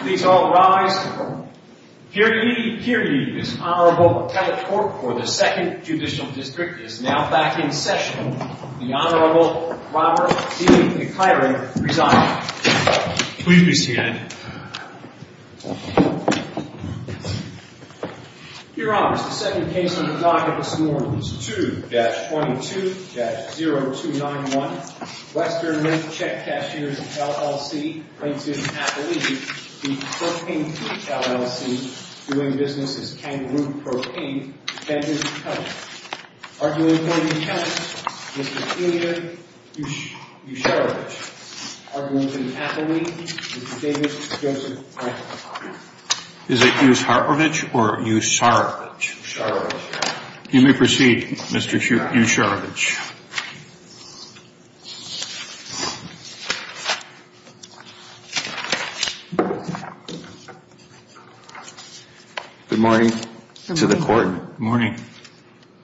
Please all rise. Hear ye, hear ye. This Honorable Appellate Court for the 2nd Judicial District is now back in session. The Honorable Robert D. McIron presiding. Please be seated. Your Honors, the second case on the docket this morning is 2-22-0291 Western Lake Check Cashiers, LLC plaintiff Appellate v. Propane Pete, LLC doing business as Kangaroo Propane, thank you for coming. Arguing plaintiff's counsel, Mr. Peter Usharovich. Arguing plaintiff's appellate, Mr. David Joseph Franklin. Is it Usharovich or Usharovich? Usharovich. You may proceed, Mr. Usharovich. Good morning to the court. Good morning.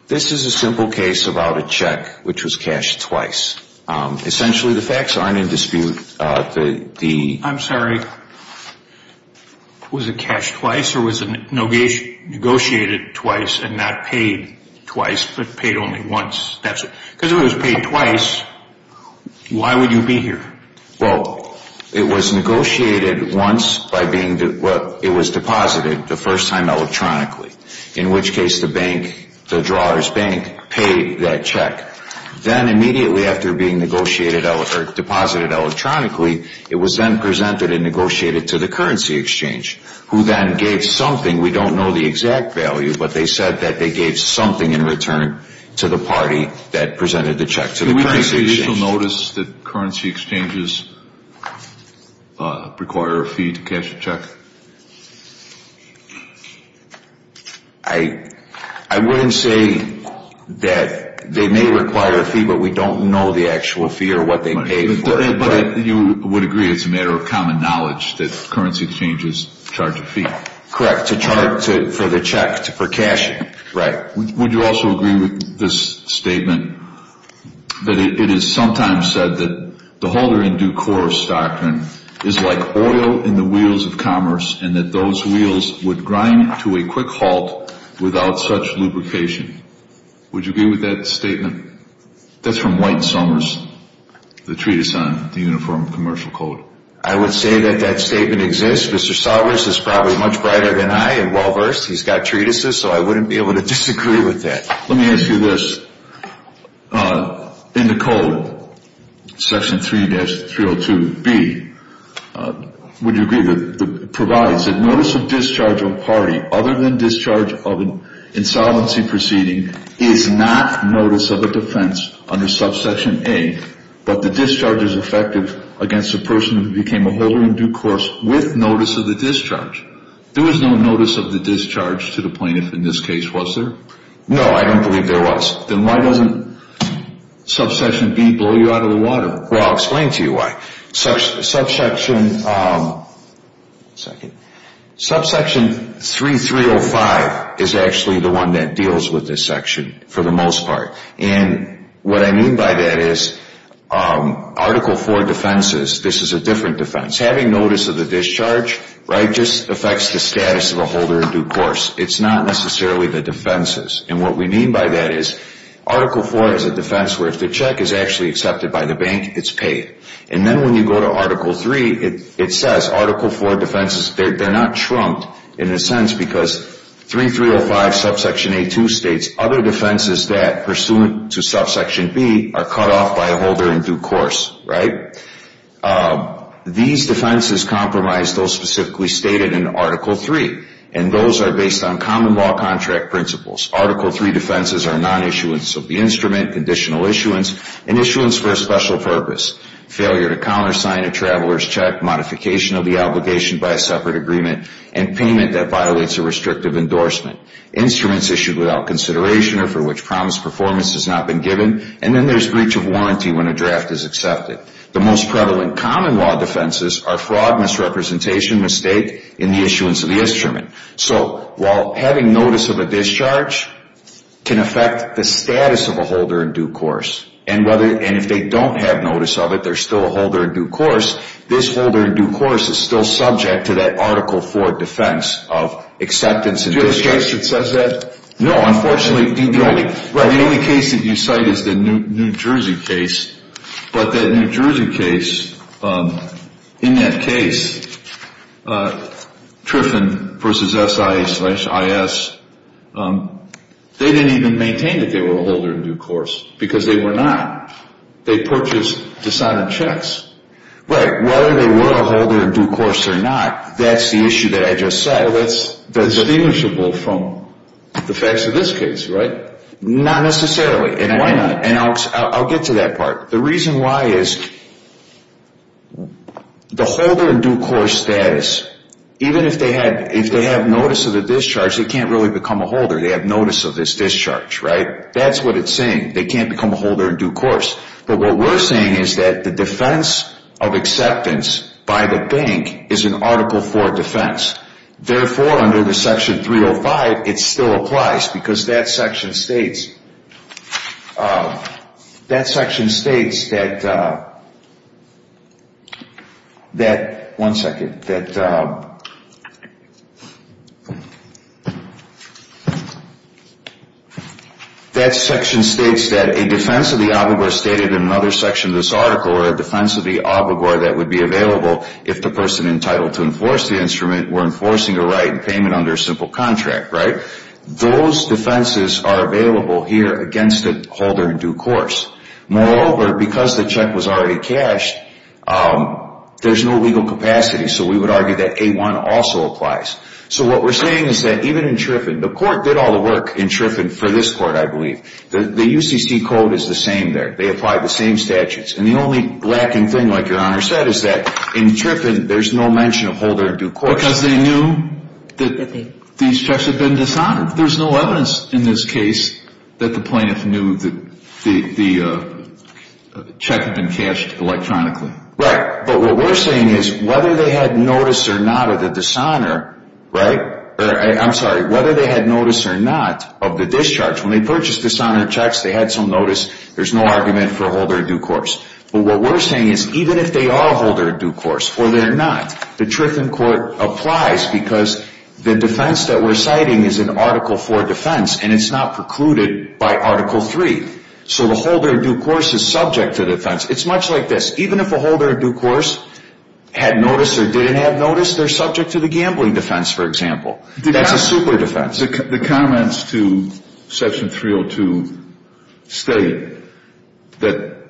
This is a simple case about a check which was cashed twice. Essentially the facts aren't in dispute. I'm sorry, was it cashed twice or was it negotiated twice and not paid twice but paid only once? Because if it was paid twice, why would you be here? Well, it was negotiated once by being deposited the first time electronically. In which case the bank, the drawer's bank, paid that check. Then immediately after being deposited electronically, it was then presented and negotiated to the currency exchange who then gave something, we don't know the exact value, but they said that they gave something in return to the party that presented the check to the currency exchange. Did you notice that currency exchanges require a fee to cash a check? I wouldn't say that they may require a fee, but we don't know the actual fee or what they pay for it. But you would agree it's a matter of common knowledge that currency exchanges charge a fee? Correct, to charge for the check, for cashing. Right. Would you also agree with this statement that it is sometimes said that the holder in due course doctrine is like oil in the wheels of commerce and that those wheels would grind to a quick halt without such lubrication? Would you agree with that statement? That's from White and Somers, the treatise on the Uniform Commercial Code. I would say that that statement exists. Mr. Somers is probably much brighter than I and well-versed. He's got treatises, so I wouldn't be able to disagree with that. Let me ask you this. In the Code, Section 3-302B, would you agree that it provides that notice of discharge of a party other than discharge of an insolvency proceeding is not notice of a defense under Subsection A, but the discharge is effective against a person who became a holder in due course with notice of the discharge? There was no notice of the discharge to the plaintiff in this case, was there? No, I don't believe there was. Then why doesn't Subsection B blow you out of the water? Well, I'll explain to you why. Subsection 3-305 is actually the one that deals with this section for the most part. And what I mean by that is Article IV defenses, this is a different defense. Having notice of the discharge, right, just affects the status of a holder in due course. It's not necessarily the defenses. And what we mean by that is Article IV is a defense where if the check is actually accepted by the bank, it's paid. And then when you go to Article III, it says Article IV defenses, they're not trumped in a sense because 3-305 Subsection A-2 states other defenses that pursuant to Subsection B are cut off by a holder in due course, right? These defenses compromise those specifically stated in Article III, and those are based on common law contract principles. Article III defenses are non-issuance of the instrument, conditional issuance, and issuance for a special purpose. Failure to countersign a traveler's check, modification of the obligation by a separate agreement, and payment that violates a restrictive endorsement. Instruments issued without consideration or for which promised performance has not been given, and then there's breach of warranty when a draft is accepted. The most prevalent common law defenses are fraud, misrepresentation, mistake, and the issuance of the instrument. So while having notice of a discharge can affect the status of a holder in due course, and if they don't have notice of it, they're still a holder in due course, this holder in due course is still subject to that Article IV defense of acceptance and discharge. Do you have a case that says that? No, unfortunately, the only case that you cite is the New Jersey case, but that New Jersey case, in that case, Triffin versus SIA slash IS, they didn't even maintain that they were a holder in due course because they were not. They purchased, decided checks. Right, whether they were a holder in due course or not, that's the issue that I just said. That's distinguishable from the facts of this case, right? Not necessarily. And why not? And I'll get to that part. The reason why is the holder in due course status, even if they have notice of the discharge, they can't really become a holder. They have notice of this discharge, right? That's what it's saying. They can't become a holder in due course. But what we're saying is that the defense of acceptance by the bank is an Article IV defense. Therefore, under the Section 305, it still applies because that section states, that section states that, one second, that section states that a defense of the obligor stated in another section of this article or a defense of the obligor that would be available if the person entitled to enforce the instrument were enforcing a right and payment under a simple contract. Right? Those defenses are available here against a holder in due course. Moreover, because the check was already cashed, there's no legal capacity. So we would argue that A-1 also applies. So what we're saying is that even in Triffin, the court did all the work in Triffin for this court, I believe. The UCC code is the same there. They apply the same statutes. And the only lacking thing, like Your Honor said, is that in Triffin, there's no mention of holder in due course. Because they knew that these checks had been dishonored. There's no evidence in this case that the plaintiff knew that the check had been cashed electronically. Right. But what we're saying is whether they had notice or not of the dishonor, right, or I'm sorry, whether they had notice or not of the discharge, when they purchased dishonor checks, they had some notice. There's no argument for a holder in due course. But what we're saying is even if they are a holder in due course or they're not, the Triffin court applies because the defense that we're citing is an Article IV defense, and it's not precluded by Article III. So the holder in due course is subject to defense. It's much like this. Even if a holder in due course had notice or didn't have notice, they're subject to the gambling defense, for example. That's a super defense. The comments to Section 302 state that,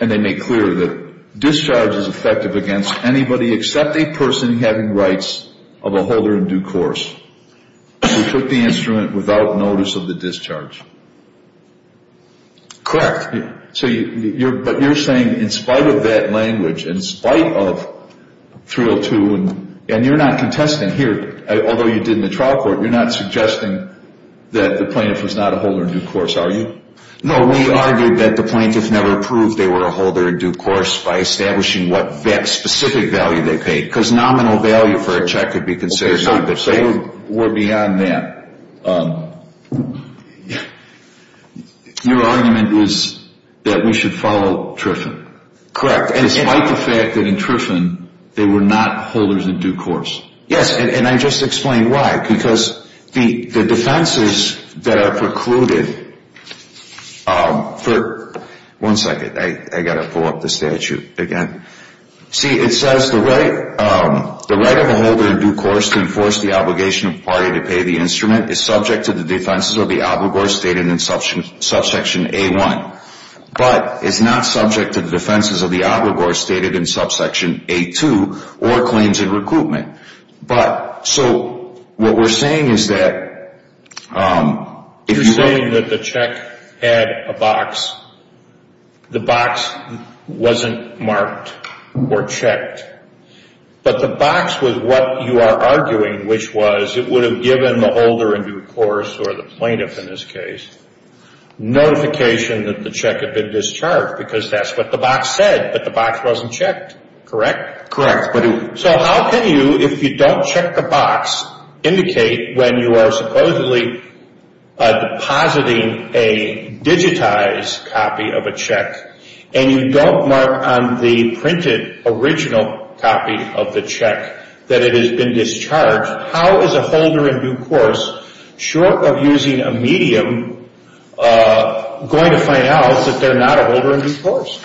and they make clear, that discharge is effective against anybody except a person having rights of a holder in due course who took the instrument without notice of the discharge. Correct. But you're saying in spite of that language, in spite of 302, and you're not contesting here, although you did in the trial court, you're not suggesting that the plaintiff was not a holder in due course, are you? No, we argued that the plaintiff never proved they were a holder in due course by establishing what specific value they paid because nominal value for a check could be considered not good. They were beyond that. Your argument is that we should follow Triffin. Correct. Despite the fact that in Triffin they were not holders in due course. Yes, and I just explained why. Because the defenses that are precluded for, one second, I've got to pull up the statute again. See, it says the right of a holder in due course to enforce the obligation of the party to pay the instrument is subject to the defenses of the obligor stated in Subsection A1, but is not subject to the defenses of the obligor stated in Subsection A2 or claims in recruitment. But so what we're saying is that if you're saying that the check had a box, the box wasn't marked or checked, but the box was what you are arguing, which was it would have given the holder in due course or the plaintiff in this case notification that the check had been discharged because that's what the box said, but the box wasn't checked, correct? Correct. So how can you, if you don't check the box, indicate when you are supposedly depositing a digitized copy of a check and you don't mark on the printed original copy of the check that it has been discharged, how is a holder in due course, short of using a medium, going to find out that they're not a holder in due course?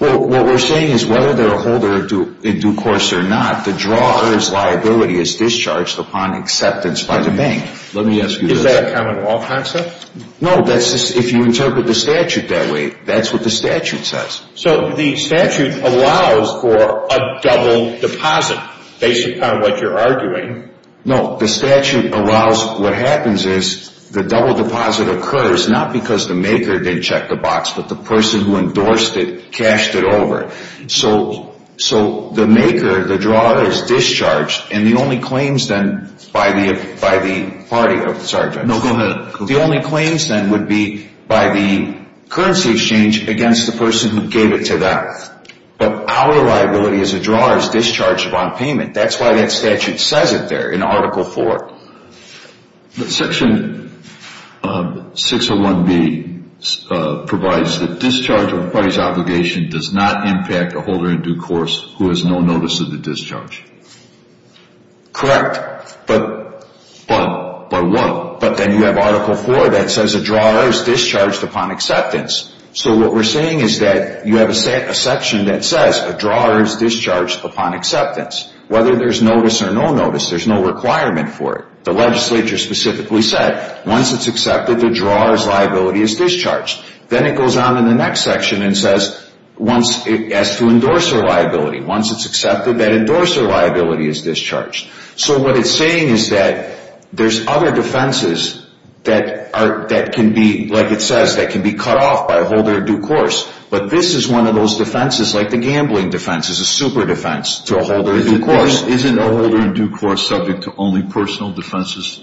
Well, what we're saying is whether they're a holder in due course or not, the drawer's liability is discharged upon acceptance by the bank. Let me ask you this. Is that a common law concept? No, if you interpret the statute that way, that's what the statute says. So the statute allows for a double deposit based upon what you're arguing. No, the statute allows, what happens is the double deposit occurs, not because the maker didn't check the box, but the person who endorsed it cashed it over. So the maker, the drawer, is discharged, and the only claims then by the party, sorry. No, go ahead. The only claims then would be by the currency exchange against the person who gave it to them. But our liability as a drawer is discharged upon payment. That's why that statute says it there in Article IV. Section 601B provides that discharge of a party's obligation does not impact a holder in due course who has no notice of the discharge. Correct. But by what? But then you have Article IV that says a drawer is discharged upon acceptance. So what we're saying is that you have a section that says a drawer is discharged upon acceptance. Whether there's notice or no notice, there's no requirement for it. The legislature specifically said once it's accepted, the drawer's liability is discharged. Then it goes on in the next section and says once it has to endorse their liability. Once it's accepted, that endorser liability is discharged. So what it's saying is that there's other defenses that can be, like it says, that can be cut off by a holder in due course. But this is one of those defenses, like the gambling defense, is a super defense to a holder in due course. Isn't a holder in due course subject to only personal defenses?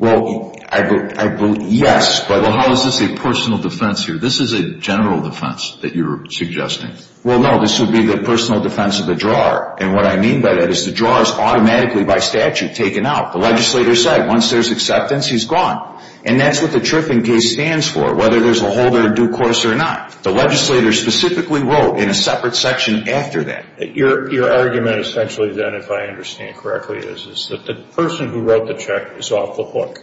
Well, I believe, yes. But how is this a personal defense here? This is a general defense that you're suggesting. Well, no, this would be the personal defense of the drawer. And what I mean by that is the drawer is automatically by statute taken out. The legislator said once there's acceptance, he's gone. And that's what the TRIFING case stands for, whether there's a holder in due course or not. The legislator specifically wrote in a separate section after that. Your argument essentially then, if I understand correctly, is that the person who wrote the check is off the hook,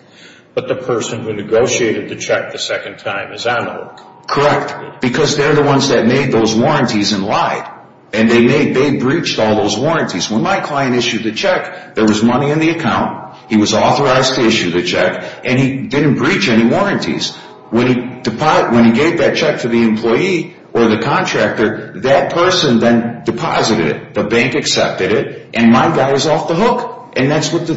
but the person who negotiated the check the second time is on the hook. Correct. Because they're the ones that made those warranties and lied. And they breached all those warranties. When my client issued the check, there was money in the account. He was authorized to issue the check, and he didn't breach any warranties. When he gave that check to the employee or the contractor, that person then deposited it. The bank accepted it, and my guy is off the hook. And that's what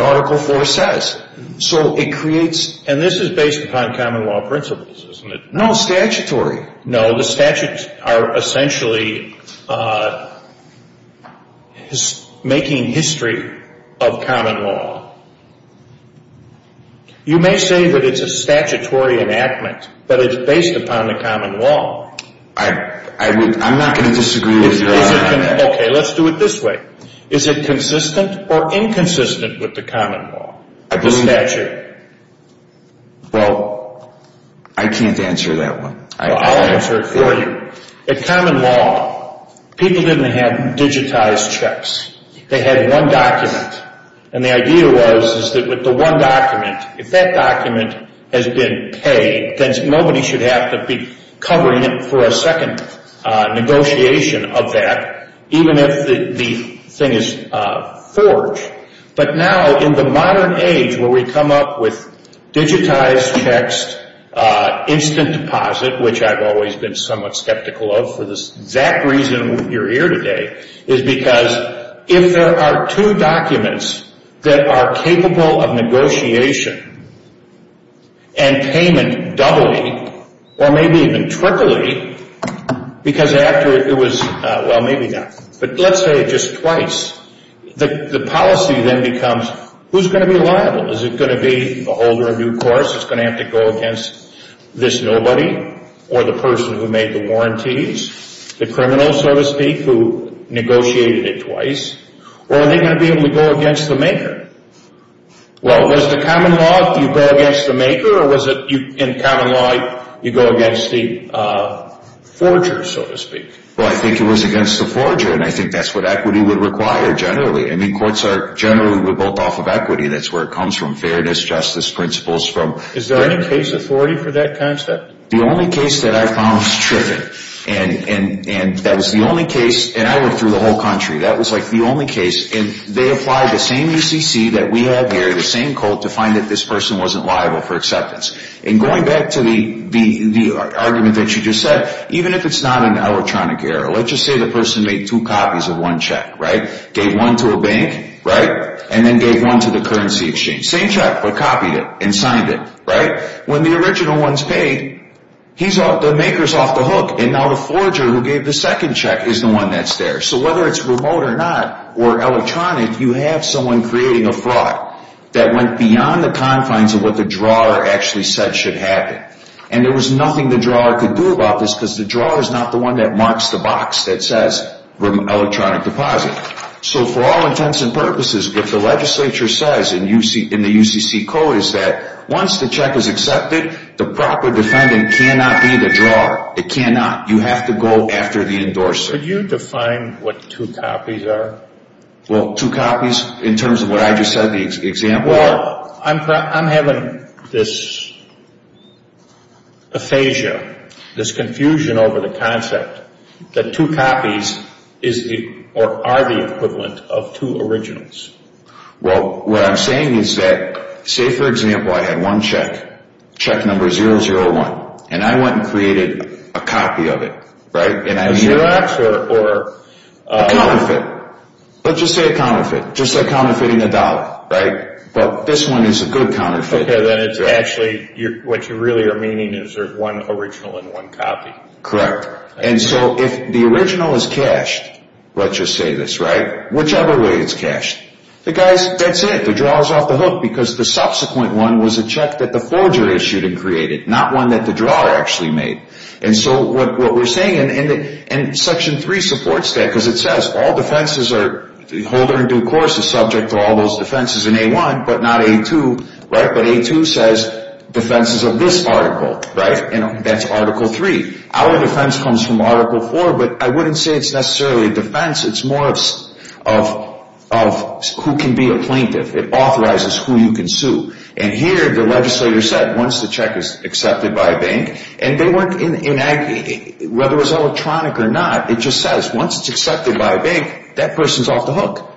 Article IV says. So it creates... And this is based upon common law principles, isn't it? No, statutory. No, the statutes are essentially making history of common law. You may say that it's a statutory enactment, but it's based upon the common law. I'm not going to disagree with your argument on that. Okay, let's do it this way. Is it consistent or inconsistent with the common law, the statute? Well, I can't answer that one. I'll answer it for you. In common law, people didn't have digitized checks. They had one document. And the idea was that with the one document, if that document has been paid, then nobody should have to be covering it for a second negotiation of that, even if the thing is forged. But now, in the modern age where we come up with digitized checks, instant deposit, which I've always been somewhat skeptical of for the exact reason you're here today, is because if there are two documents that are capable of negotiation and payment doubly, or maybe even triply, because after it was... Well, maybe not. But let's say it just twice. The policy then becomes, who's going to be liable? Is it going to be the holder of due course that's going to have to go against this nobody or the person who made the warranties, the criminal, so to speak, who negotiated it twice? Or are they going to be able to go against the maker? Well, was the common law you go against the maker, or was it in common law you go against the forger, so to speak? Well, I think it was against the forger, and I think that's what equity would require generally. I mean, courts are generally built off of equity. That's where it comes from. Fairness, justice, principles. Is there any case authority for that kind of stuff? The only case that I found was Triffin. And that was the only case, and I went through the whole country. That was like the only case. And they applied the same ECC that we have here, the same cult, to find that this person wasn't liable for acceptance. And going back to the argument that you just said, even if it's not an electronic error, let's just say the person made two copies of one check, right? Gave one to a bank, right? And then gave one to the currency exchange. Same check, but copied it and signed it, right? When the original one's paid, the maker's off the hook, and now the forger who gave the second check is the one that's there. So whether it's remote or not or electronic, you have someone creating a fraud that went beyond the confines of what the drawer actually said should happen. And there was nothing the drawer could do about this because the drawer is not the one that marks the box that says electronic deposit. So for all intents and purposes, what the legislature says in the UCC code is that once the check is accepted, the proper defendant cannot be the drawer. It cannot. You have to go after the endorser. Could you define what two copies are? Well, two copies in terms of what I just said, the example? Well, I'm having this aphasia, this confusion over the concept that two copies are the equivalent of two originals. Well, what I'm saying is that, say, for example, I had one check, check number 001, and I went and created a copy of it, right? A Xerox or? A counterfeit. Let's just say a counterfeit, just like counterfeiting a dollar, right? But this one is a good counterfeit. Okay, then it's actually what you really are meaning is there's one original and one copy. Correct. And so if the original is cashed, let's just say this, right, whichever way it's cashed, the guy's dead set, the drawer's off the hook, because the subsequent one was a check that the forger issued and created, not one that the drawer actually made. And so what we're saying, and Section 3 supports that, because it says all defenses are holder in due course is subject to all those defenses in A1, but not A2, right? But A2 says defenses of this article, right? And that's Article 3. Our defense comes from Article 4, but I wouldn't say it's necessarily a defense. It's more of who can be a plaintiff. It authorizes who you can sue. And here the legislator said once the check is accepted by a bank, and whether it was electronic or not, it just says once it's accepted by a bank, that person's off the hook.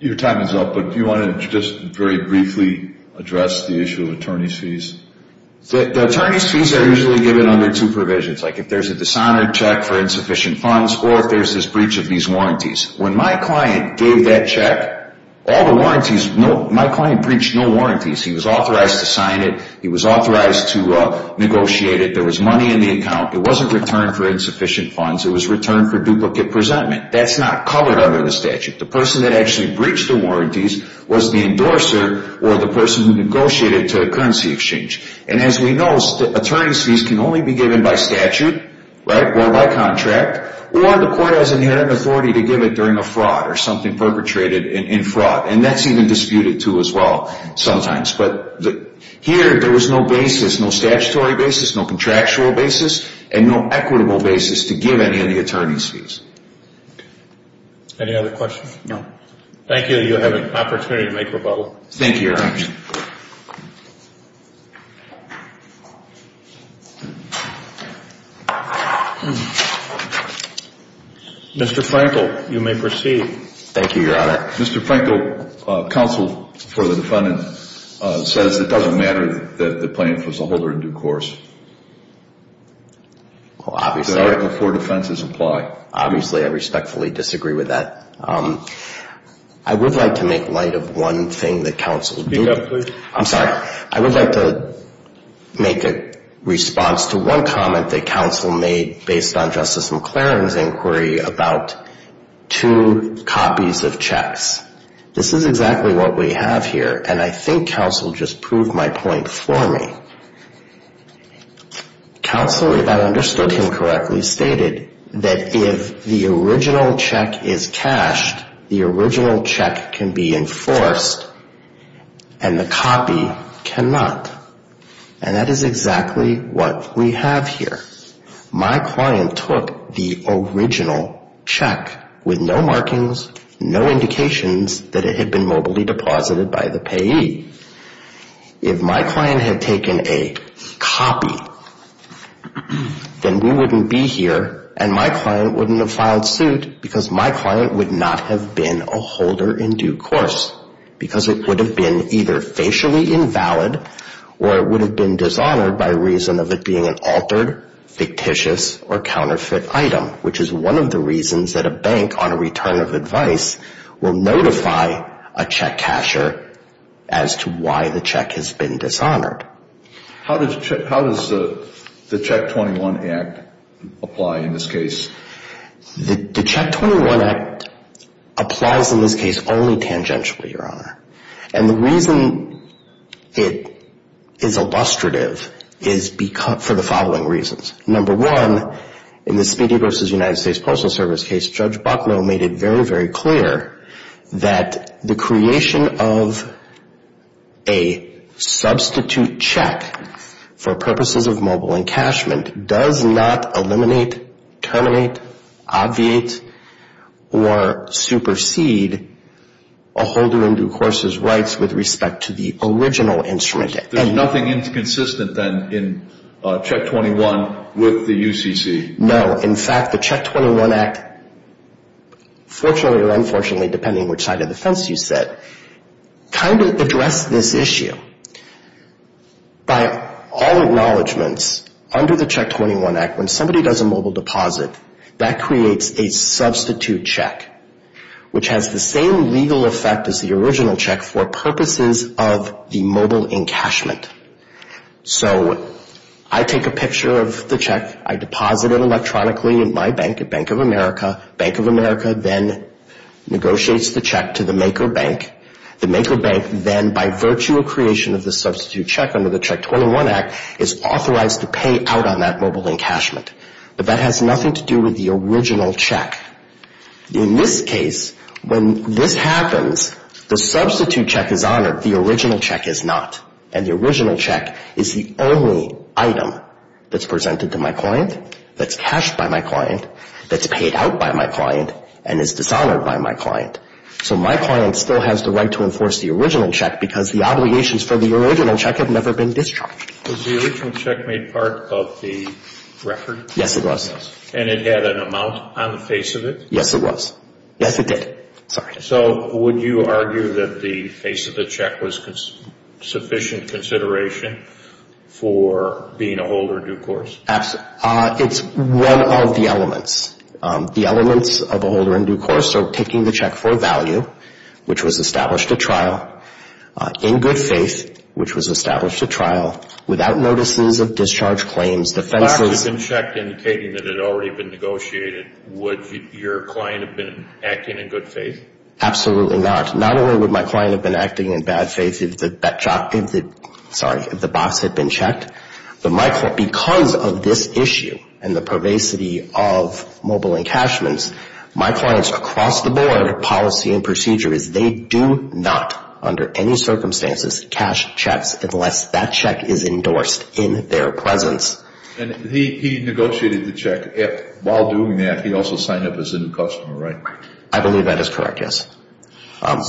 Your time is up, but do you want to just very briefly address the issue of attorney's fees? The attorney's fees are usually given under two provisions, like if there's a dishonored check for insufficient funds or if there's this breach of these warranties. When my client gave that check, all the warranties, my client breached no warranties. He was authorized to sign it. He was authorized to negotiate it. There was money in the account. It wasn't returned for insufficient funds. It was returned for duplicate presentment. That's not covered under the statute. The person that actually breached the warranties was the endorser or the person who negotiated to a currency exchange. And as we know, attorney's fees can only be given by statute, right, or by contract, or the court has inherent authority to give it during a fraud or something perpetrated in fraud. And that's even disputed too as well sometimes. But here there was no basis, no statutory basis, no contractual basis, and no equitable basis to give any of the attorney's fees. Any other questions? No. Thank you. You have an opportunity to make rebuttal. Thank you, Your Honor. Mr. Frankel, you may proceed. Thank you, Your Honor. Mr. Frankel, counsel for the defendant says it doesn't matter that the plaintiff was a holder in due course. Obviously. The four defenses apply. Obviously. I respectfully disagree with that. I would like to make light of one thing that counsel did. Speak up, please. I'm sorry. I would like to make a response to one comment that counsel made based on This is exactly what we have here. And I think counsel just proved my point for me. Counsel, if I understood him correctly, stated that if the original check is cashed, the original check can be enforced and the copy cannot. And that is exactly what we have here. My client took the original check with no markings, no indications that it had been mobilely deposited by the payee. If my client had taken a copy, then we wouldn't be here and my client wouldn't have filed suit because my client would not have been a holder in due course because it would have been either facially invalid or it would have been dishonored by reason of it being an altered, fictitious, or counterfeit item, which is one of the reasons that a bank on a return of advice will notify a check casher as to why the check has been dishonored. How does the Check 21 Act apply in this case? The Check 21 Act applies in this case only tangentially, Your Honor. And the reason it is illustrative is for the following reasons. Number one, in the Speedy v. United States Postal Service case, Judge Bucknell made it very, very clear that the creation of a substitute check for purposes of mobile encashment does not eliminate, terminate, obviate, or supersede a holder in due course's rights with respect to the original instrument. There's nothing inconsistent then in Check 21 with the UCC? No. In fact, the Check 21 Act, fortunately or unfortunately, depending on which side of the fence you sit, kind of addressed this issue. By all acknowledgements, under the Check 21 Act, when somebody does a mobile deposit, that creates a substitute check, which has the same legal effect as the original check for purposes of the mobile encashment. So I take a picture of the check. I deposit it electronically at my bank, at Bank of America. Bank of America then negotiates the check to the maker bank. The maker bank then, by virtue of creation of the substitute check under the But that has nothing to do with the original check. In this case, when this happens, the substitute check is honored. The original check is not. And the original check is the only item that's presented to my client, that's cashed by my client, that's paid out by my client, and is dishonored by my client. So my client still has the right to enforce the original check because the obligations for the original check have never been discharged. Was the original check made part of the record? Yes, it was. And it had an amount on the face of it? Yes, it was. Yes, it did. Sorry. So would you argue that the face of the check was sufficient consideration for being a holder in due course? Absolutely. It's one of the elements. The elements of a holder in due course are taking the check for value, which was established at trial, in good faith, which was established at trial, without notices of discharge claims, defenses. If the box had been checked indicating that it had already been negotiated, would your client have been acting in good faith? Absolutely not. Not only would my client have been acting in bad faith if the box had been checked, but because of this issue and the pervasity of mobile encashments, my client's across the board policy and procedure is they do not, under any circumstances, cash checks unless that check is endorsed in their presence. And he negotiated the check. While doing that, he also signed up as a new customer, right? I believe that is correct, yes,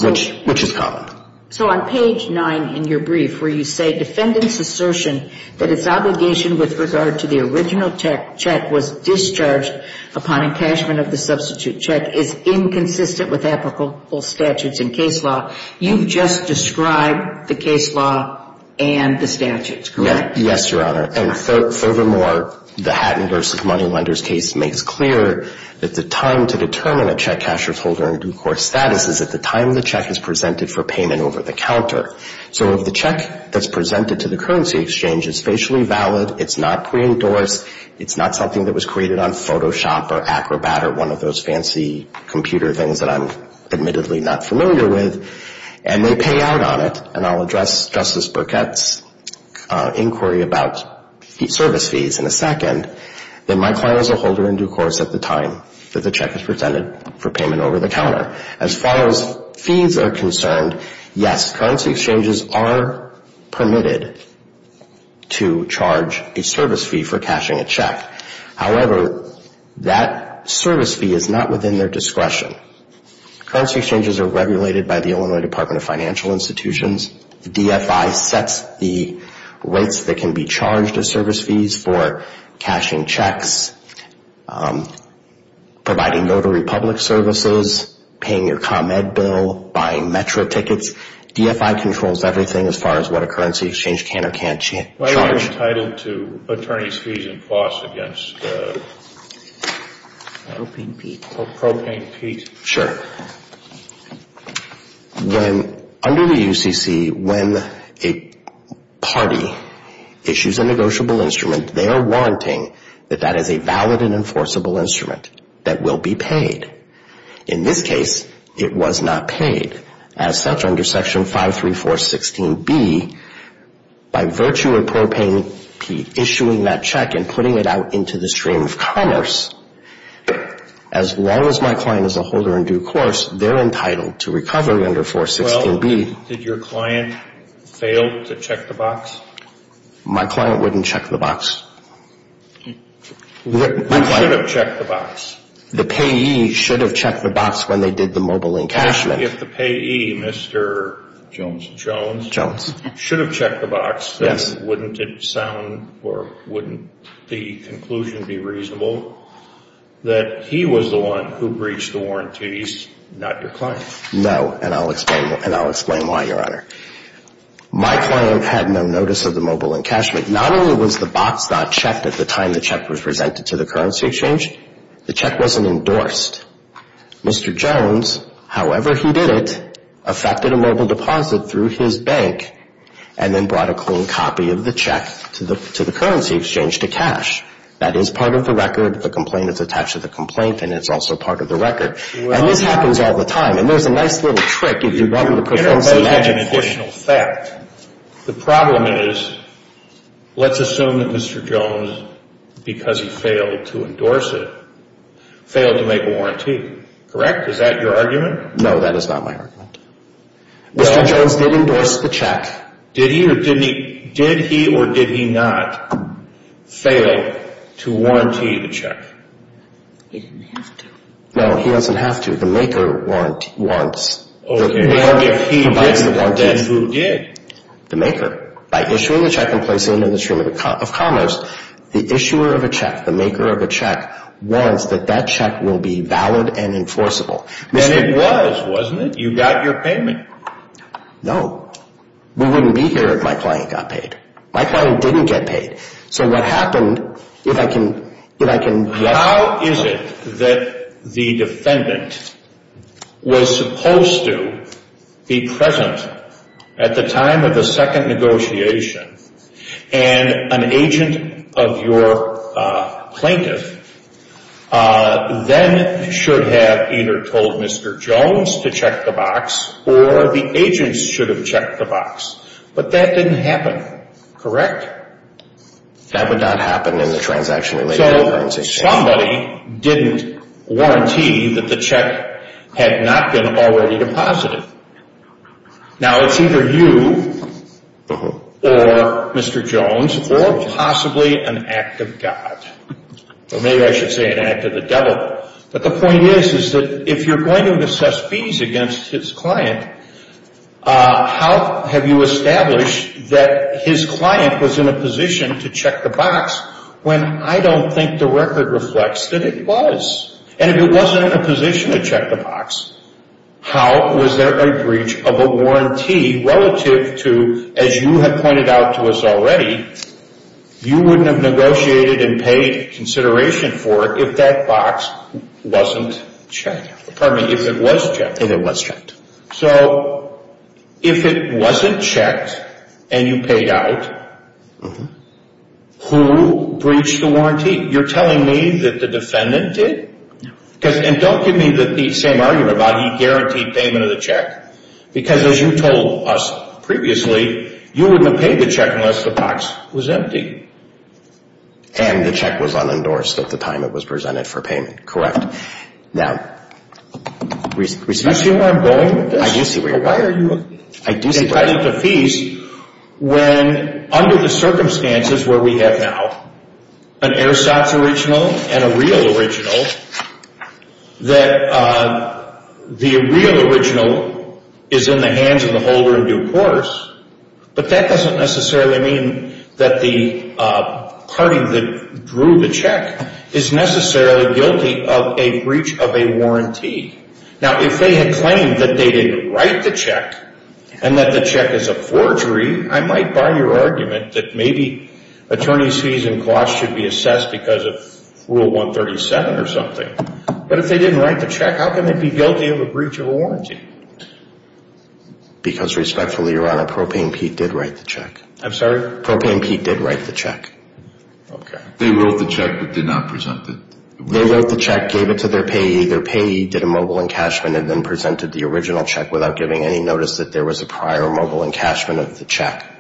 which is common. So on page 9 in your brief where you say, defendant's assertion that its obligation with regard to the original check was discharged upon encashment of the substitute check is inconsistent with applicable statutes in case law. You've just described the case law and the statutes, correct? Yes, Your Honor. And furthermore, the Hatton v. Moneylenders case makes clear that the time to determine a check casher's holder and due course status is at the time the check is presented for payment over the counter. So if the check that's presented to the currency exchange is facially valid, it's not preendorsed, it's not something that was created on Photoshop or Acrobat or one of those fancy computer things that I'm admittedly not familiar with, and they pay out on it, and I'll address Justice Burkett's inquiry about service fees in a second, then my client is a holder and due course at the time that the check is presented for payment over the counter. As far as fees are concerned, yes, currency exchanges are permitted to charge a service fee for cashing a check. However, that service fee is not within their discretion. Currency exchanges are regulated by the Illinois Department of Financial Institutions. The DFI sets the rates that can be charged as service fees for cashing checks, providing notary public services, paying your ComEd bill, buying Metro tickets. DFI controls everything as far as what a currency exchange can or can't charge. Attorney's fees and costs against propane peat. Sure. Under the UCC, when a party issues a negotiable instrument, they are warranting that that is a valid and enforceable instrument that will be paid. In this case, it was not paid. As such, under Section 53416B, by virtue of propane peat issuing that check and putting it out into the stream of commerce, as long as my client is a holder and due course, they're entitled to recovery under 416B. Well, did your client fail to check the box? My client wouldn't check the box. Who should have checked the box? The payee should have checked the box when they did the mobile encashment. Well, if the payee, Mr. Jones, should have checked the box, then wouldn't it sound or wouldn't the conclusion be reasonable that he was the one who breached the warranties, not your client? No, and I'll explain why, Your Honor. My client had no notice of the mobile encashment. Not only was the box not checked at the time the check was presented to the currency exchange, the check wasn't endorsed. Mr. Jones, however he did it, affected a mobile deposit through his bank and then brought a clean copy of the check to the currency exchange to cash. That is part of the record. The complaint is attached to the complaint, and it's also part of the record. And this happens all the time. And there's a nice little trick if you want to put things in action. Your Honor, that is an additional fact. The problem is, let's assume that Mr. Jones, because he failed to endorse it, failed to make a warranty, correct? Is that your argument? No, that is not my argument. Mr. Jones did endorse the check. Did he or did he not fail to warranty the check? He didn't have to. No, he doesn't have to. The maker warrants. Well, if he did, then who did? The maker. By issuing the check and placing it in the stream of commerce, the issuer of a that check will be valid and enforceable. Then it was, wasn't it? You got your payment. No. We wouldn't be here if my client got paid. My client didn't get paid. So what happened, if I can get... How is it that the defendant was supposed to be present at the time of the second negotiation and an agent of your plaintiff then should have either told Mr. Jones to check the box or the agents should have checked the box, but that didn't happen, correct? That would not happen in the transaction-related currency case. So somebody didn't warranty that the check had not been already deposited. Now, it's either you or Mr. Jones or possibly an act of God. Or maybe I should say an act of the devil. But the point is, is that if you're going to assess fees against his client, how have you established that his client was in a position to check the box when I don't think the record reflects that it was? And if it wasn't in a position to check the box, how was there a breach of a warranty relative to, as you had pointed out to us already, you wouldn't have negotiated and paid consideration for it if that box wasn't checked. Pardon me, if it was checked. So if it wasn't checked and you paid out, who breached the warranty? You're telling me that the defendant did? No. And don't give me the same argument about he guaranteed payment of the check. Because as you told us previously, you wouldn't have paid the check unless the box was empty. And the check was unendorsed at the time it was presented for payment, correct? Now, do you see where I'm going with this? I do see where you're going. Why are you entitled to fees when, under the circumstances where we have now, an Airstops original and a real original, that the real original is in the hands of the holder in due course, but that doesn't necessarily mean that the party that drew the check is necessarily guilty of a breach of a warranty. Now, if they had claimed that they didn't write the check and that the check is a forgery, I might bar your argument that maybe attorney's fees and costs should be assessed because of Rule 137 or something. But if they didn't write the check, how can they be guilty of a breach of a warranty? Because, respectfully, Your Honor, Propane Pete did write the check. I'm sorry? Propane Pete did write the check. Okay. They wrote the check but did not present it. They wrote the check, gave it to their payee. Their payee did a mobile encashment and then presented the original check without giving any notice that there was a prior mobile encashment of the check.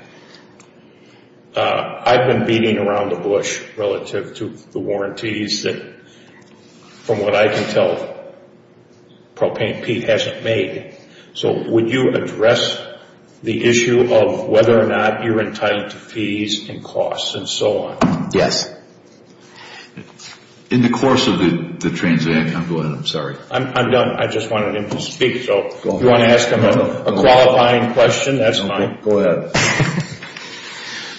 I've been beating around the bush relative to the warranties that, from what I can tell, Propane Pete hasn't made. So would you address the issue of whether or not you're entitled to fees and costs and so on? Yes. In the course of the transaction. Go ahead. I'm sorry. I'm done. I just wanted him to speak, so if you want to ask him a qualifying question, that's fine. Go ahead.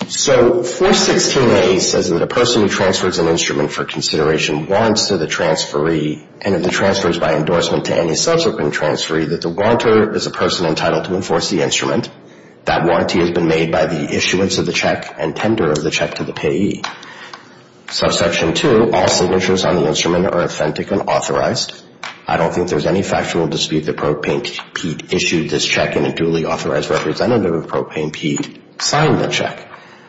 So 416A says that a person who transfers an instrument for consideration warrants to the transferee and if the transfer is by endorsement to any subsequent transferee, that the warrantor is a person entitled to enforce the instrument. That warranty has been made by the issuance of the check and tender of the check to the payee. Subsection 2, all signatures on the instrument are authentic and authorized. I don't think there's any factual dispute that Propane Pete issued this check and a duly authorized representative of Propane Pete signed the check.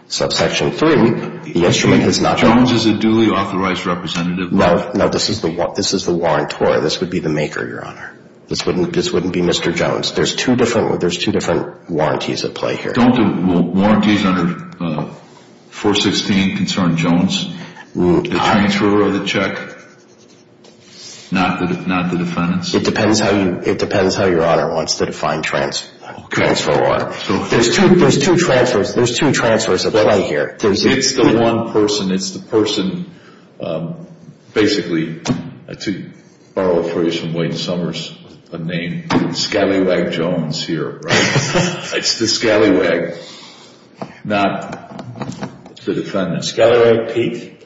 Subsection 3, the instrument has not been. Jones is a duly authorized representative. No, this is the warrantor. This would be the maker, Your Honor. This wouldn't be Mr. Jones. There's two different warranties at play here. Don't the warranties under 416 concern Jones, the transfer of the check, not the defendant's? It depends how Your Honor wants to define transfer of warrants. There's two transfers at play here. It's the one person. It's the person, basically, to borrow a phrase from Wayne Summers, a name, Scallywag Jones here. It's the Scallywag, not the defendant. Scallywag Pete.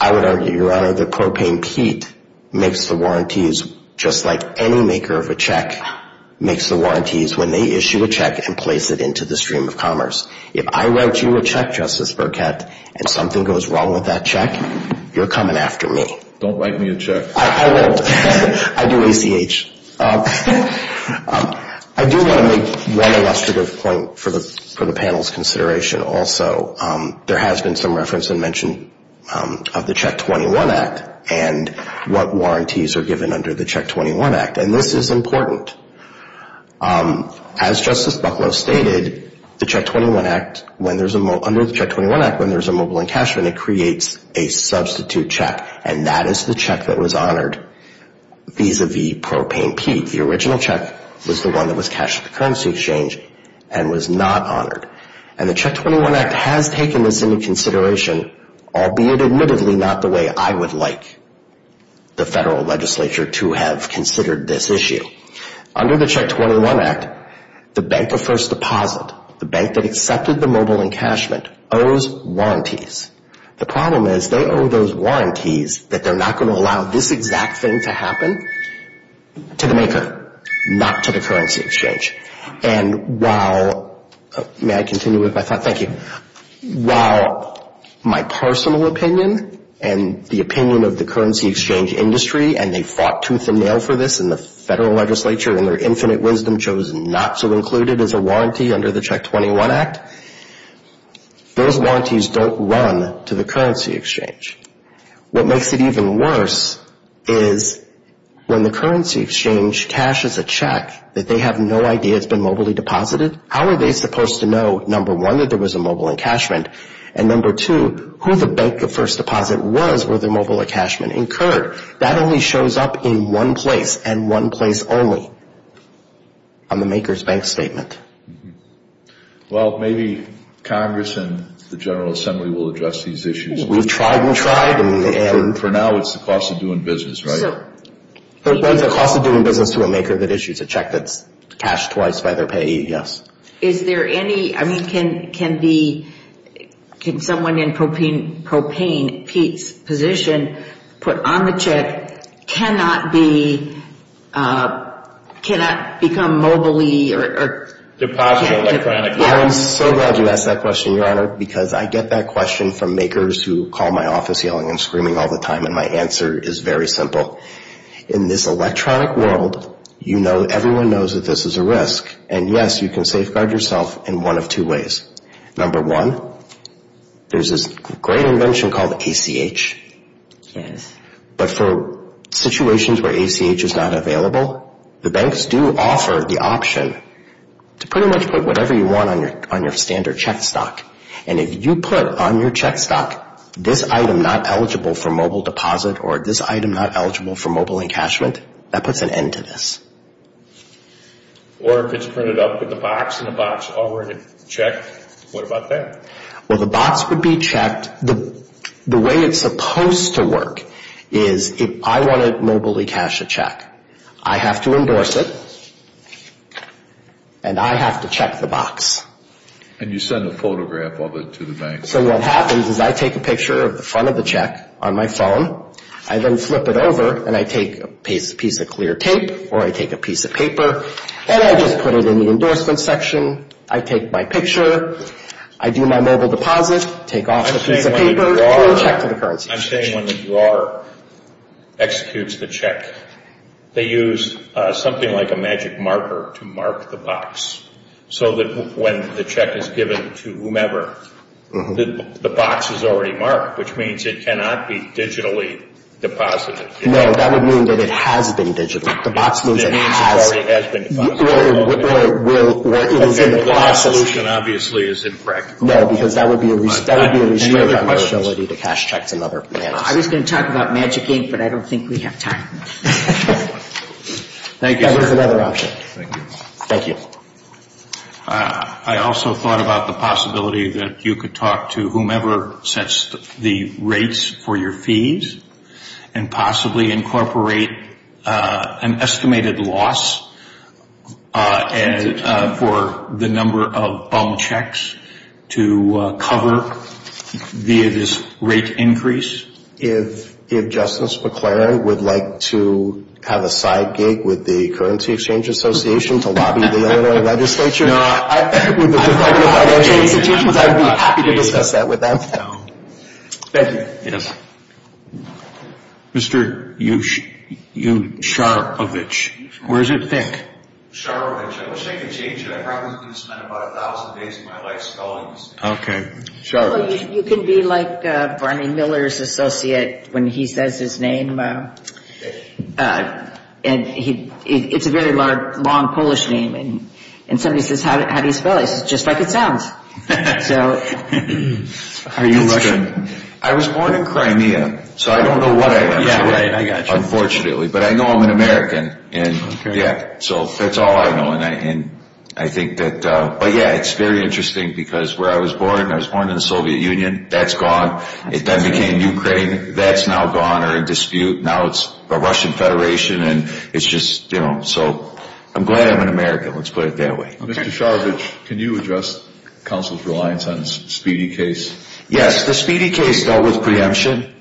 I would argue, Your Honor, that Propane Pete makes the warranties just like any maker of a check makes the warranties when they issue a check and place it into the stream of commerce. If I write you a check, Justice Burkett, and something goes wrong with that check, you're coming after me. Don't write me a check. I won't. I do ACH. I do want to make one illustrative point for the panel's consideration also. There has been some reference and mention of the Check 21 Act and what warranties are given under the Check 21 Act, and this is important. As Justice Bucklow stated, under the Check 21 Act, when there's a mobile encashment, it creates a substitute check, and that is the check that was honored vis-a-vis Propane Pete. The original check was the one that was cashed at the currency exchange and was not honored. And the Check 21 Act has taken this into consideration, albeit admittedly not the way I would like the federal legislature to have considered this issue. Under the Check 21 Act, the bank of first deposit, the bank that accepted the mobile encashment, owes warranties. The problem is they owe those warranties that they're not going to allow this exact thing to happen to the maker, not to the currency exchange. And while my personal opinion and the opinion of the currency exchange industry, and they fought tooth and nail for this in the federal legislature, and their infinite wisdom chose not to include it as a warranty under the Check 21 Act, those warranties don't run to the currency exchange. What makes it even worse is when the currency exchange cashes a check that they have no idea it's been mobilely deposited, how are they supposed to know, number one, that there was a mobile encashment, and number two, who the bank of first deposit was where the mobile encashment occurred? That only shows up in one place, and one place only, on the maker's bank statement. Well, maybe Congress and the General Assembly will address these issues. We've tried and tried. For now, it's the cost of doing business, right? The cost of doing business to a maker that issues a check that's cashed twice by their payee, yes. Is there any, I mean, can someone in propane, Pete's position, put on the check, cannot be, cannot become mobilely or? Deposited electronically. I'm so glad you asked that question, Your Honor, because I get that question from makers who call my office yelling and screaming all the time, and my answer is very simple. In this electronic world, you know, everyone knows that this is a risk, and yes, you can safeguard yourself in one of two ways. Number one, there's this great invention called ACH. Yes. But for situations where ACH is not available, the banks do offer the option to pretty much put whatever you want on your standard check stock, and if you put on your check stock this item not eligible for mobile deposit or this item not eligible for mobile encashment, that puts an end to this. Or if it's printed up with a box and a box already checked, what about that? Well, the box would be checked. The way it's supposed to work is if I want to mobilely cash a check, I have to endorse it, and I have to check the box. And you send a photograph of it to the bank. So what happens is I take a picture of the front of the check on my phone. I then flip it over, and I take a piece of clear tape, or I take a piece of paper, and I just put it in the endorsement section. I take my picture. I do my mobile deposit, take off the piece of paper, and I check the currency. I'm saying when the drawer executes the check, they use something like a magic marker to mark the box, so that when the check is given to whomever, the box is already marked, which means it cannot be digitally deposited. No, that would mean that it has been digitally. The box means it has. It means it already has been deposited. Well, the box solution obviously is impractical. No, because that would be a restriction on your ability to cash checks in other manners. I was going to talk about magic ink, but I don't think we have time. Thank you, sir. That was another option. Thank you. Thank you. I also thought about the possibility that you could talk to whomever sets the rates for your fees and possibly incorporate an estimated loss for the number of bum checks to cover via this rate increase. If Justice McClaren would like to have a side gig with the Currency Exchange Association to lobby the Illinois legislature, I would be happy to discuss that with them. Thank you. Yes. Mr. U. Sharovich, where does it think? Sharovich. I wish I could change it. I probably could spend about 1,000 days of my life spelling this name. Okay. Sharovich. You can be like Barney Miller's associate when he says his name. It's a very long Polish name. And somebody says, how do you spell it? He says, just like it sounds. How are you Russian? I was born in Crimea, so I don't know what I am, unfortunately. But I know I'm an American. So that's all I know. But, yeah, it's very interesting because where I was born, I was born in the Soviet Union. That's gone. It then became Ukraine. That's now gone or in dispute. Now it's the Russian Federation. And it's just, you know, so I'm glad I'm an American. Let's put it that way. Mr. Sharovich, can you address counsel's reliance on the Speedy case? Yes. The Speedy case dealt with preemption.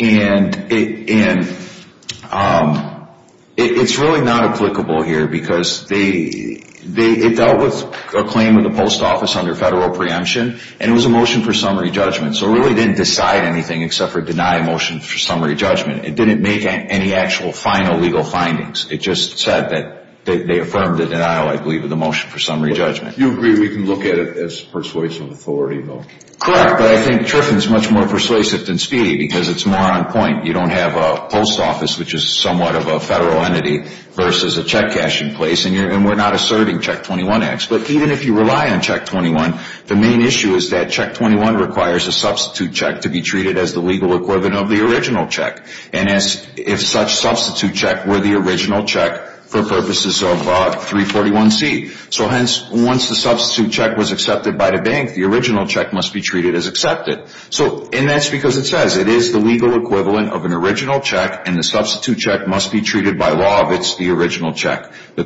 And it's really not applicable here because it dealt with a claim of the post office under federal preemption, and it was a motion for summary judgment. So it really didn't decide anything except for deny a motion for summary judgment. It didn't make any actual final legal findings. It just said that they affirmed the denial, I believe, of the motion for summary judgment. You agree we can look at it as persuasive authority, though? Correct. But I think Triffin is much more persuasive than Speedy because it's more on point. You don't have a post office, which is somewhat of a federal entity, versus a check cashing place. And we're not asserting Check 21 acts. But even if you rely on Check 21, the main issue is that Check 21 requires a substitute check to be treated as the legal equivalent of the original check. And if such substitute check were the original check for purposes of 341C. So, hence, once the substitute check was accepted by the bank, the original check must be treated as accepted. And that's because it says it is the legal equivalent of an original check, and the substitute check must be treated by law if it's the original check. The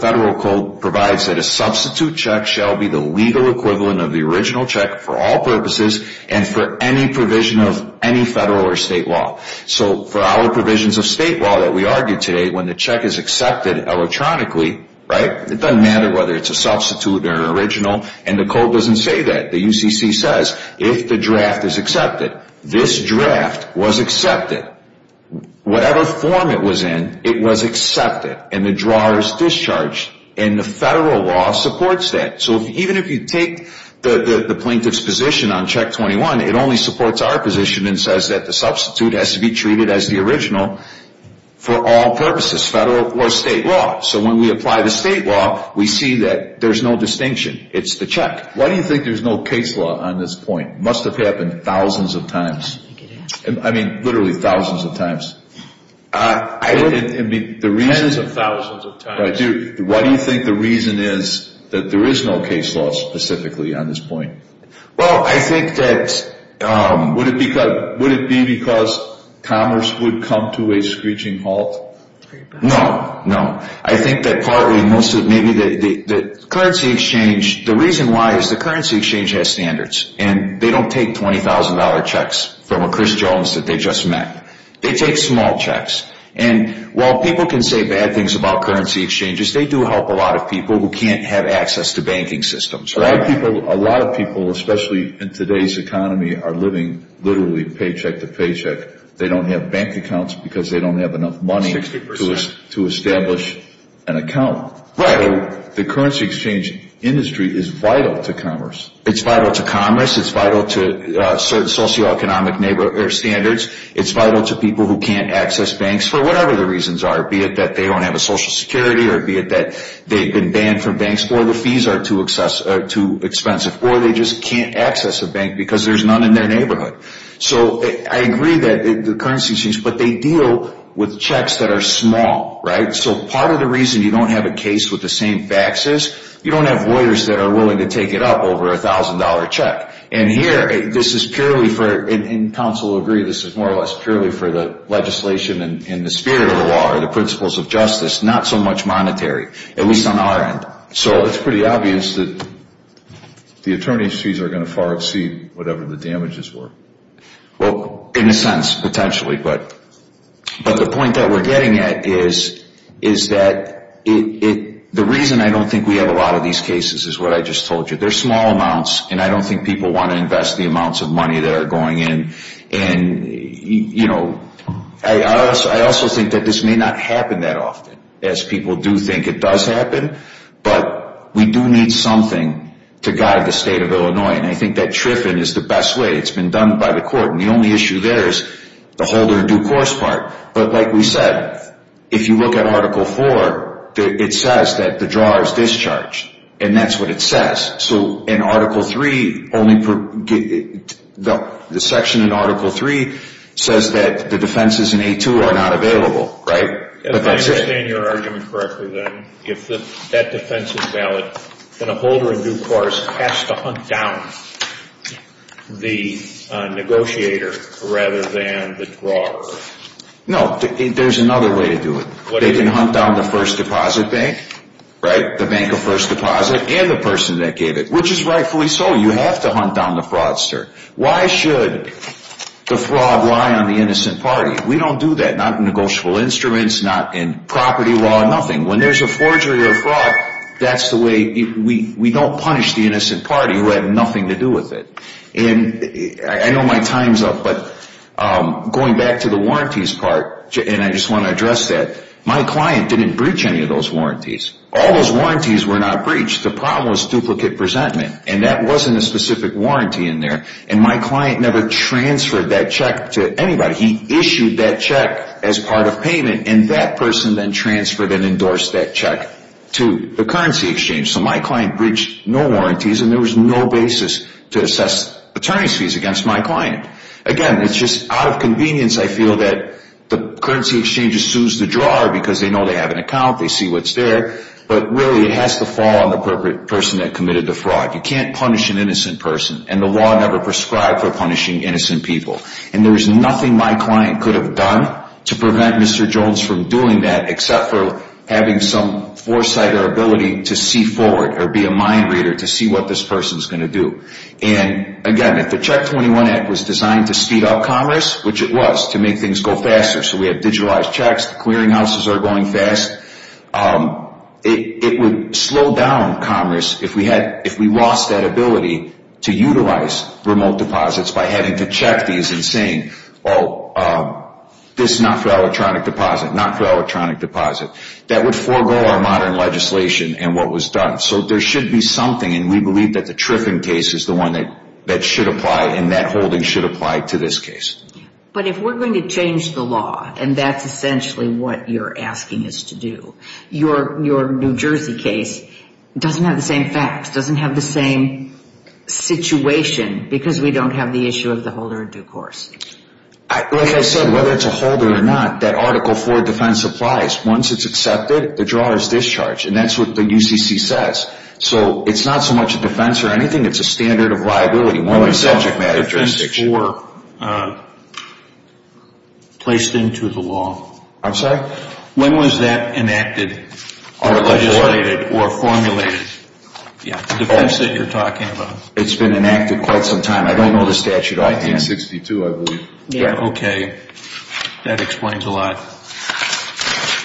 federal code provides that a substitute check shall be the legal equivalent of the original check for all purposes and for any provision of any federal or state law. So, for our provisions of state law that we argued today, when the check is accepted electronically, right? It doesn't matter whether it's a substitute or an original. And the code doesn't say that. The UCC says if the draft is accepted, this draft was accepted. Whatever form it was in, it was accepted. And the drawer is discharged. And the federal law supports that. So, even if you take the plaintiff's position on Check 21, it only supports our position and says that the substitute has to be treated as the original for all purposes, federal or state law. So, when we apply the state law, we see that there's no distinction. It's the check. Why do you think there's no case law on this point? It must have happened thousands of times. I mean, literally thousands of times. I mean, the reason... Tens of thousands of times. Why do you think the reason is that there is no case law specifically on this point? Well, I think that... Would it be because commerce would come to a screeching halt? No, no. I think that partly most of... Maybe the currency exchange... The reason why is the currency exchange has standards. And they don't take $20,000 checks from a Chris Jones that they just met. They take small checks. And while people can say bad things about currency exchanges, they do help a lot of people who can't have access to banking systems. A lot of people, especially in today's economy, are living literally paycheck to paycheck. They don't have bank accounts because they don't have enough money to establish an account. Right. The currency exchange industry is vital to commerce. It's vital to commerce. It's vital to socioeconomic standards. It's vital to people who can't access banks for whatever the reasons are, be it that they don't have a social security, or be it that they've been banned from banks, or the fees are too expensive, or they just can't access a bank because there's none in their neighborhood. So I agree that the currency exchange... But they deal with checks that are small, right? So part of the reason you don't have a case with the same faxes, you don't have lawyers that are willing to take it up over a $1,000 check. And here, this is purely for, and counsel will agree, this is more or less purely for the legislation in the spirit of the law or the principles of justice, not so much monetary, at least on our end. So it's pretty obvious that the attorney's fees are going to far exceed whatever the damages were. Well, in a sense, potentially. But the point that we're getting at is that the reason I don't think we have a lot of these cases is what I just told you. They're small amounts, and I don't think people want to invest the amounts of money that are going in. And, you know, I also think that this may not happen that often, as people do think it does happen, but we do need something to guide the state of Illinois. And I think that TRIFIN is the best way. It's been done by the court, and the only issue there is the hold or due course part. But like we said, if you look at Article 4, it says that the drawer is discharged, and that's what it says. So in Article 3, the section in Article 3 says that the defenses in A2 are not available, right? If I understand your argument correctly, then, if that defense is valid, then a holder of due course has to hunt down the negotiator rather than the drawer. No, there's another way to do it. They can hunt down the first deposit bank, right, the bank of first deposit, and the person that gave it, which is rightfully so. You have to hunt down the fraudster. Why should the fraud lie on the innocent party? We don't do that, not in negotiable instruments, not in property law, nothing. When there's a forgery or a fraud, that's the way we don't punish the innocent party who had nothing to do with it. And I know my time's up, but going back to the warranties part, and I just want to address that, my client didn't breach any of those warranties. All those warranties were not breached. The problem was duplicate presentment, and that wasn't a specific warranty in there, and my client never transferred that check to anybody. He issued that check as part of payment, and that person then transferred and endorsed that check to the currency exchange. So my client breached no warranties, and there was no basis to assess attorney's fees against my client. Again, it's just out of convenience, I feel, that the currency exchange sues the drawer because they know they have an account, they see what's there, but really it has to fall on the person that committed the fraud. You can't punish an innocent person, and the law never prescribed for punishing innocent people. And there was nothing my client could have done to prevent Mr. Jones from doing that except for having some foresight or ability to see forward or be a mind reader to see what this person's going to do. And again, if the Check 21 Act was designed to speed up commerce, which it was, to make things go faster, so we have digitalized checks, the clearinghouses are going fast, it would slow down commerce if we lost that ability to utilize remote deposits by having to check these and saying, well, this is not for electronic deposit, not for electronic deposit. That would forego our modern legislation and what was done. So there should be something, and we believe that the Triffin case is the one that should apply, and that holding should apply to this case. But if we're going to change the law, and that's essentially what you're asking us to do, your New Jersey case doesn't have the same facts, doesn't have the same situation, because we don't have the issue of the holder of due course. Like I said, whether it's a holder or not, that Article IV defense applies. Once it's accepted, the drawer is discharged, and that's what the UCC says. So it's not so much a defense or anything, it's a standard of liability. When was Article IV placed into the law? I'm sorry? When was that enacted or legislated or formulated? The defense that you're talking about. It's been enacted quite some time. I don't know the statute. 1962, I believe. Okay. That explains a lot.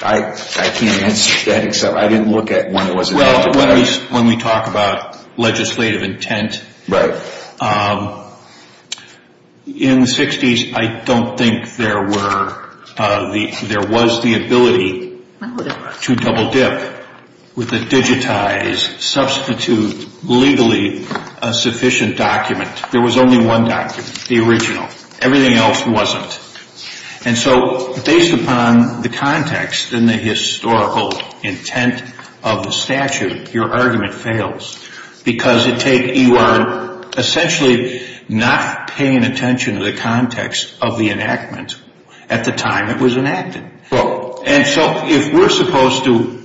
I can't answer that, except I didn't look at when it was enacted. Well, when we talk about legislative intent, in the 60s I don't think there was the ability to double dip with a digitized, substitute, legally sufficient document. There was only one document, the original. Everything else wasn't. And so based upon the context and the historical intent of the statute, your argument fails, because you are essentially not paying attention to the context of the enactment at the time it was enacted. And so if we're supposed to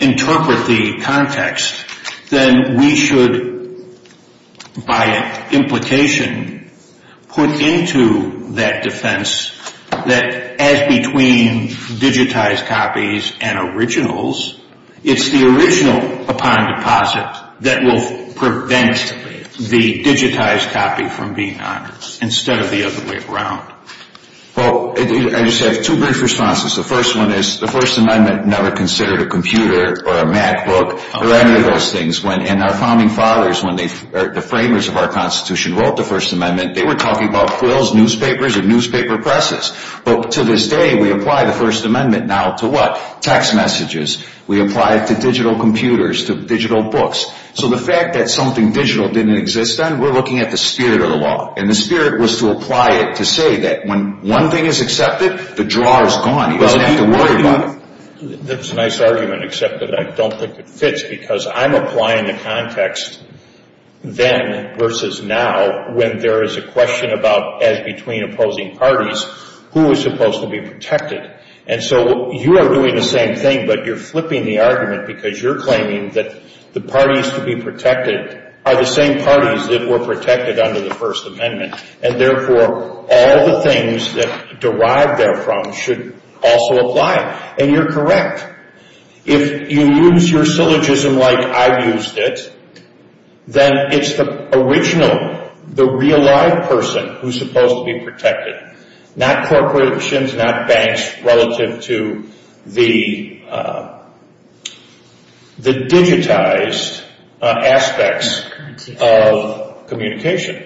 interpret the context, then we should, by implication, put into that defense that as between digitized copies and originals, it's the original upon deposit that will prevent the digitized copy from being honored, instead of the other way around. Well, I just have two brief responses. The first one is the First Amendment never considered a computer or a MacBook or any of those things. And our founding fathers, when the framers of our Constitution wrote the First Amendment, they were talking about quills, newspapers, and newspaper presses. But to this day, we apply the First Amendment now to what? Text messages. We apply it to digital computers, to digital books. So the fact that something digital didn't exist then, we're looking at the spirit of the law. And the spirit was to apply it to say that when one thing is accepted, the draw is gone. You don't have to worry about it. That's a nice argument, except that I don't think it fits, because I'm applying the context then versus now when there is a question about, as between opposing parties, who is supposed to be protected. And so you are doing the same thing, but you're flipping the argument, because you're claiming that the parties to be protected are the same parties that were protected under the First Amendment. And therefore, all the things that derived therefrom should also apply. And you're correct. If you use your syllogism like I used it, then it's the original, the real live person who's supposed to be protected. Not corporations, not banks, relative to the digitized aspects of communication.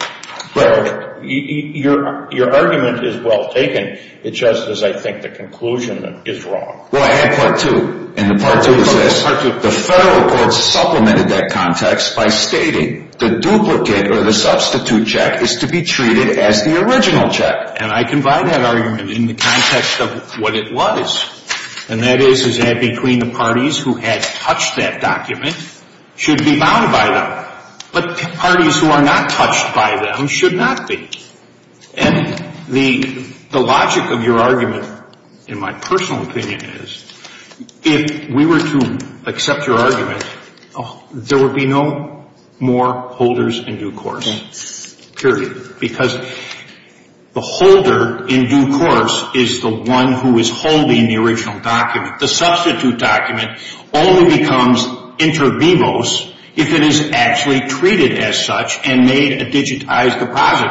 Your argument is well taken, it's just that I think the conclusion is wrong. Well, I had part two, and the part two is this. The federal courts supplemented that context by stating the duplicate or the substitute check is to be treated as the original check. And I can buy that argument in the context of what it was. And that is, is that between the parties who had touched that document should be bounded by them. But parties who are not touched by them should not be. And the logic of your argument, in my personal opinion, is if we were to accept your argument, there would be no more holders in due course, period. Because the holder in due course is the one who is holding the original document. The substitute document only becomes inter vivos if it is actually treated as such and made a digitized deposit.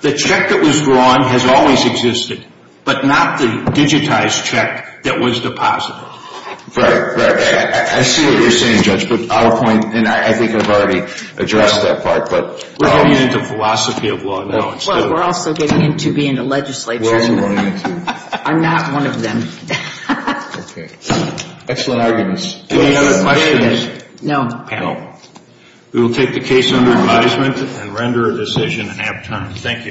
The check that was drawn has always existed, but not the digitized check that was deposited. Right, right. I see what you're saying, Judge, but I'll point, and I think I've already addressed that part. We're getting into philosophy of law now. Well, we're also getting into being a legislator. I'm not one of them. Excellent arguments. Any other questions? No. Panel. We will take the case under advisement and render a decision in half time. Thank you.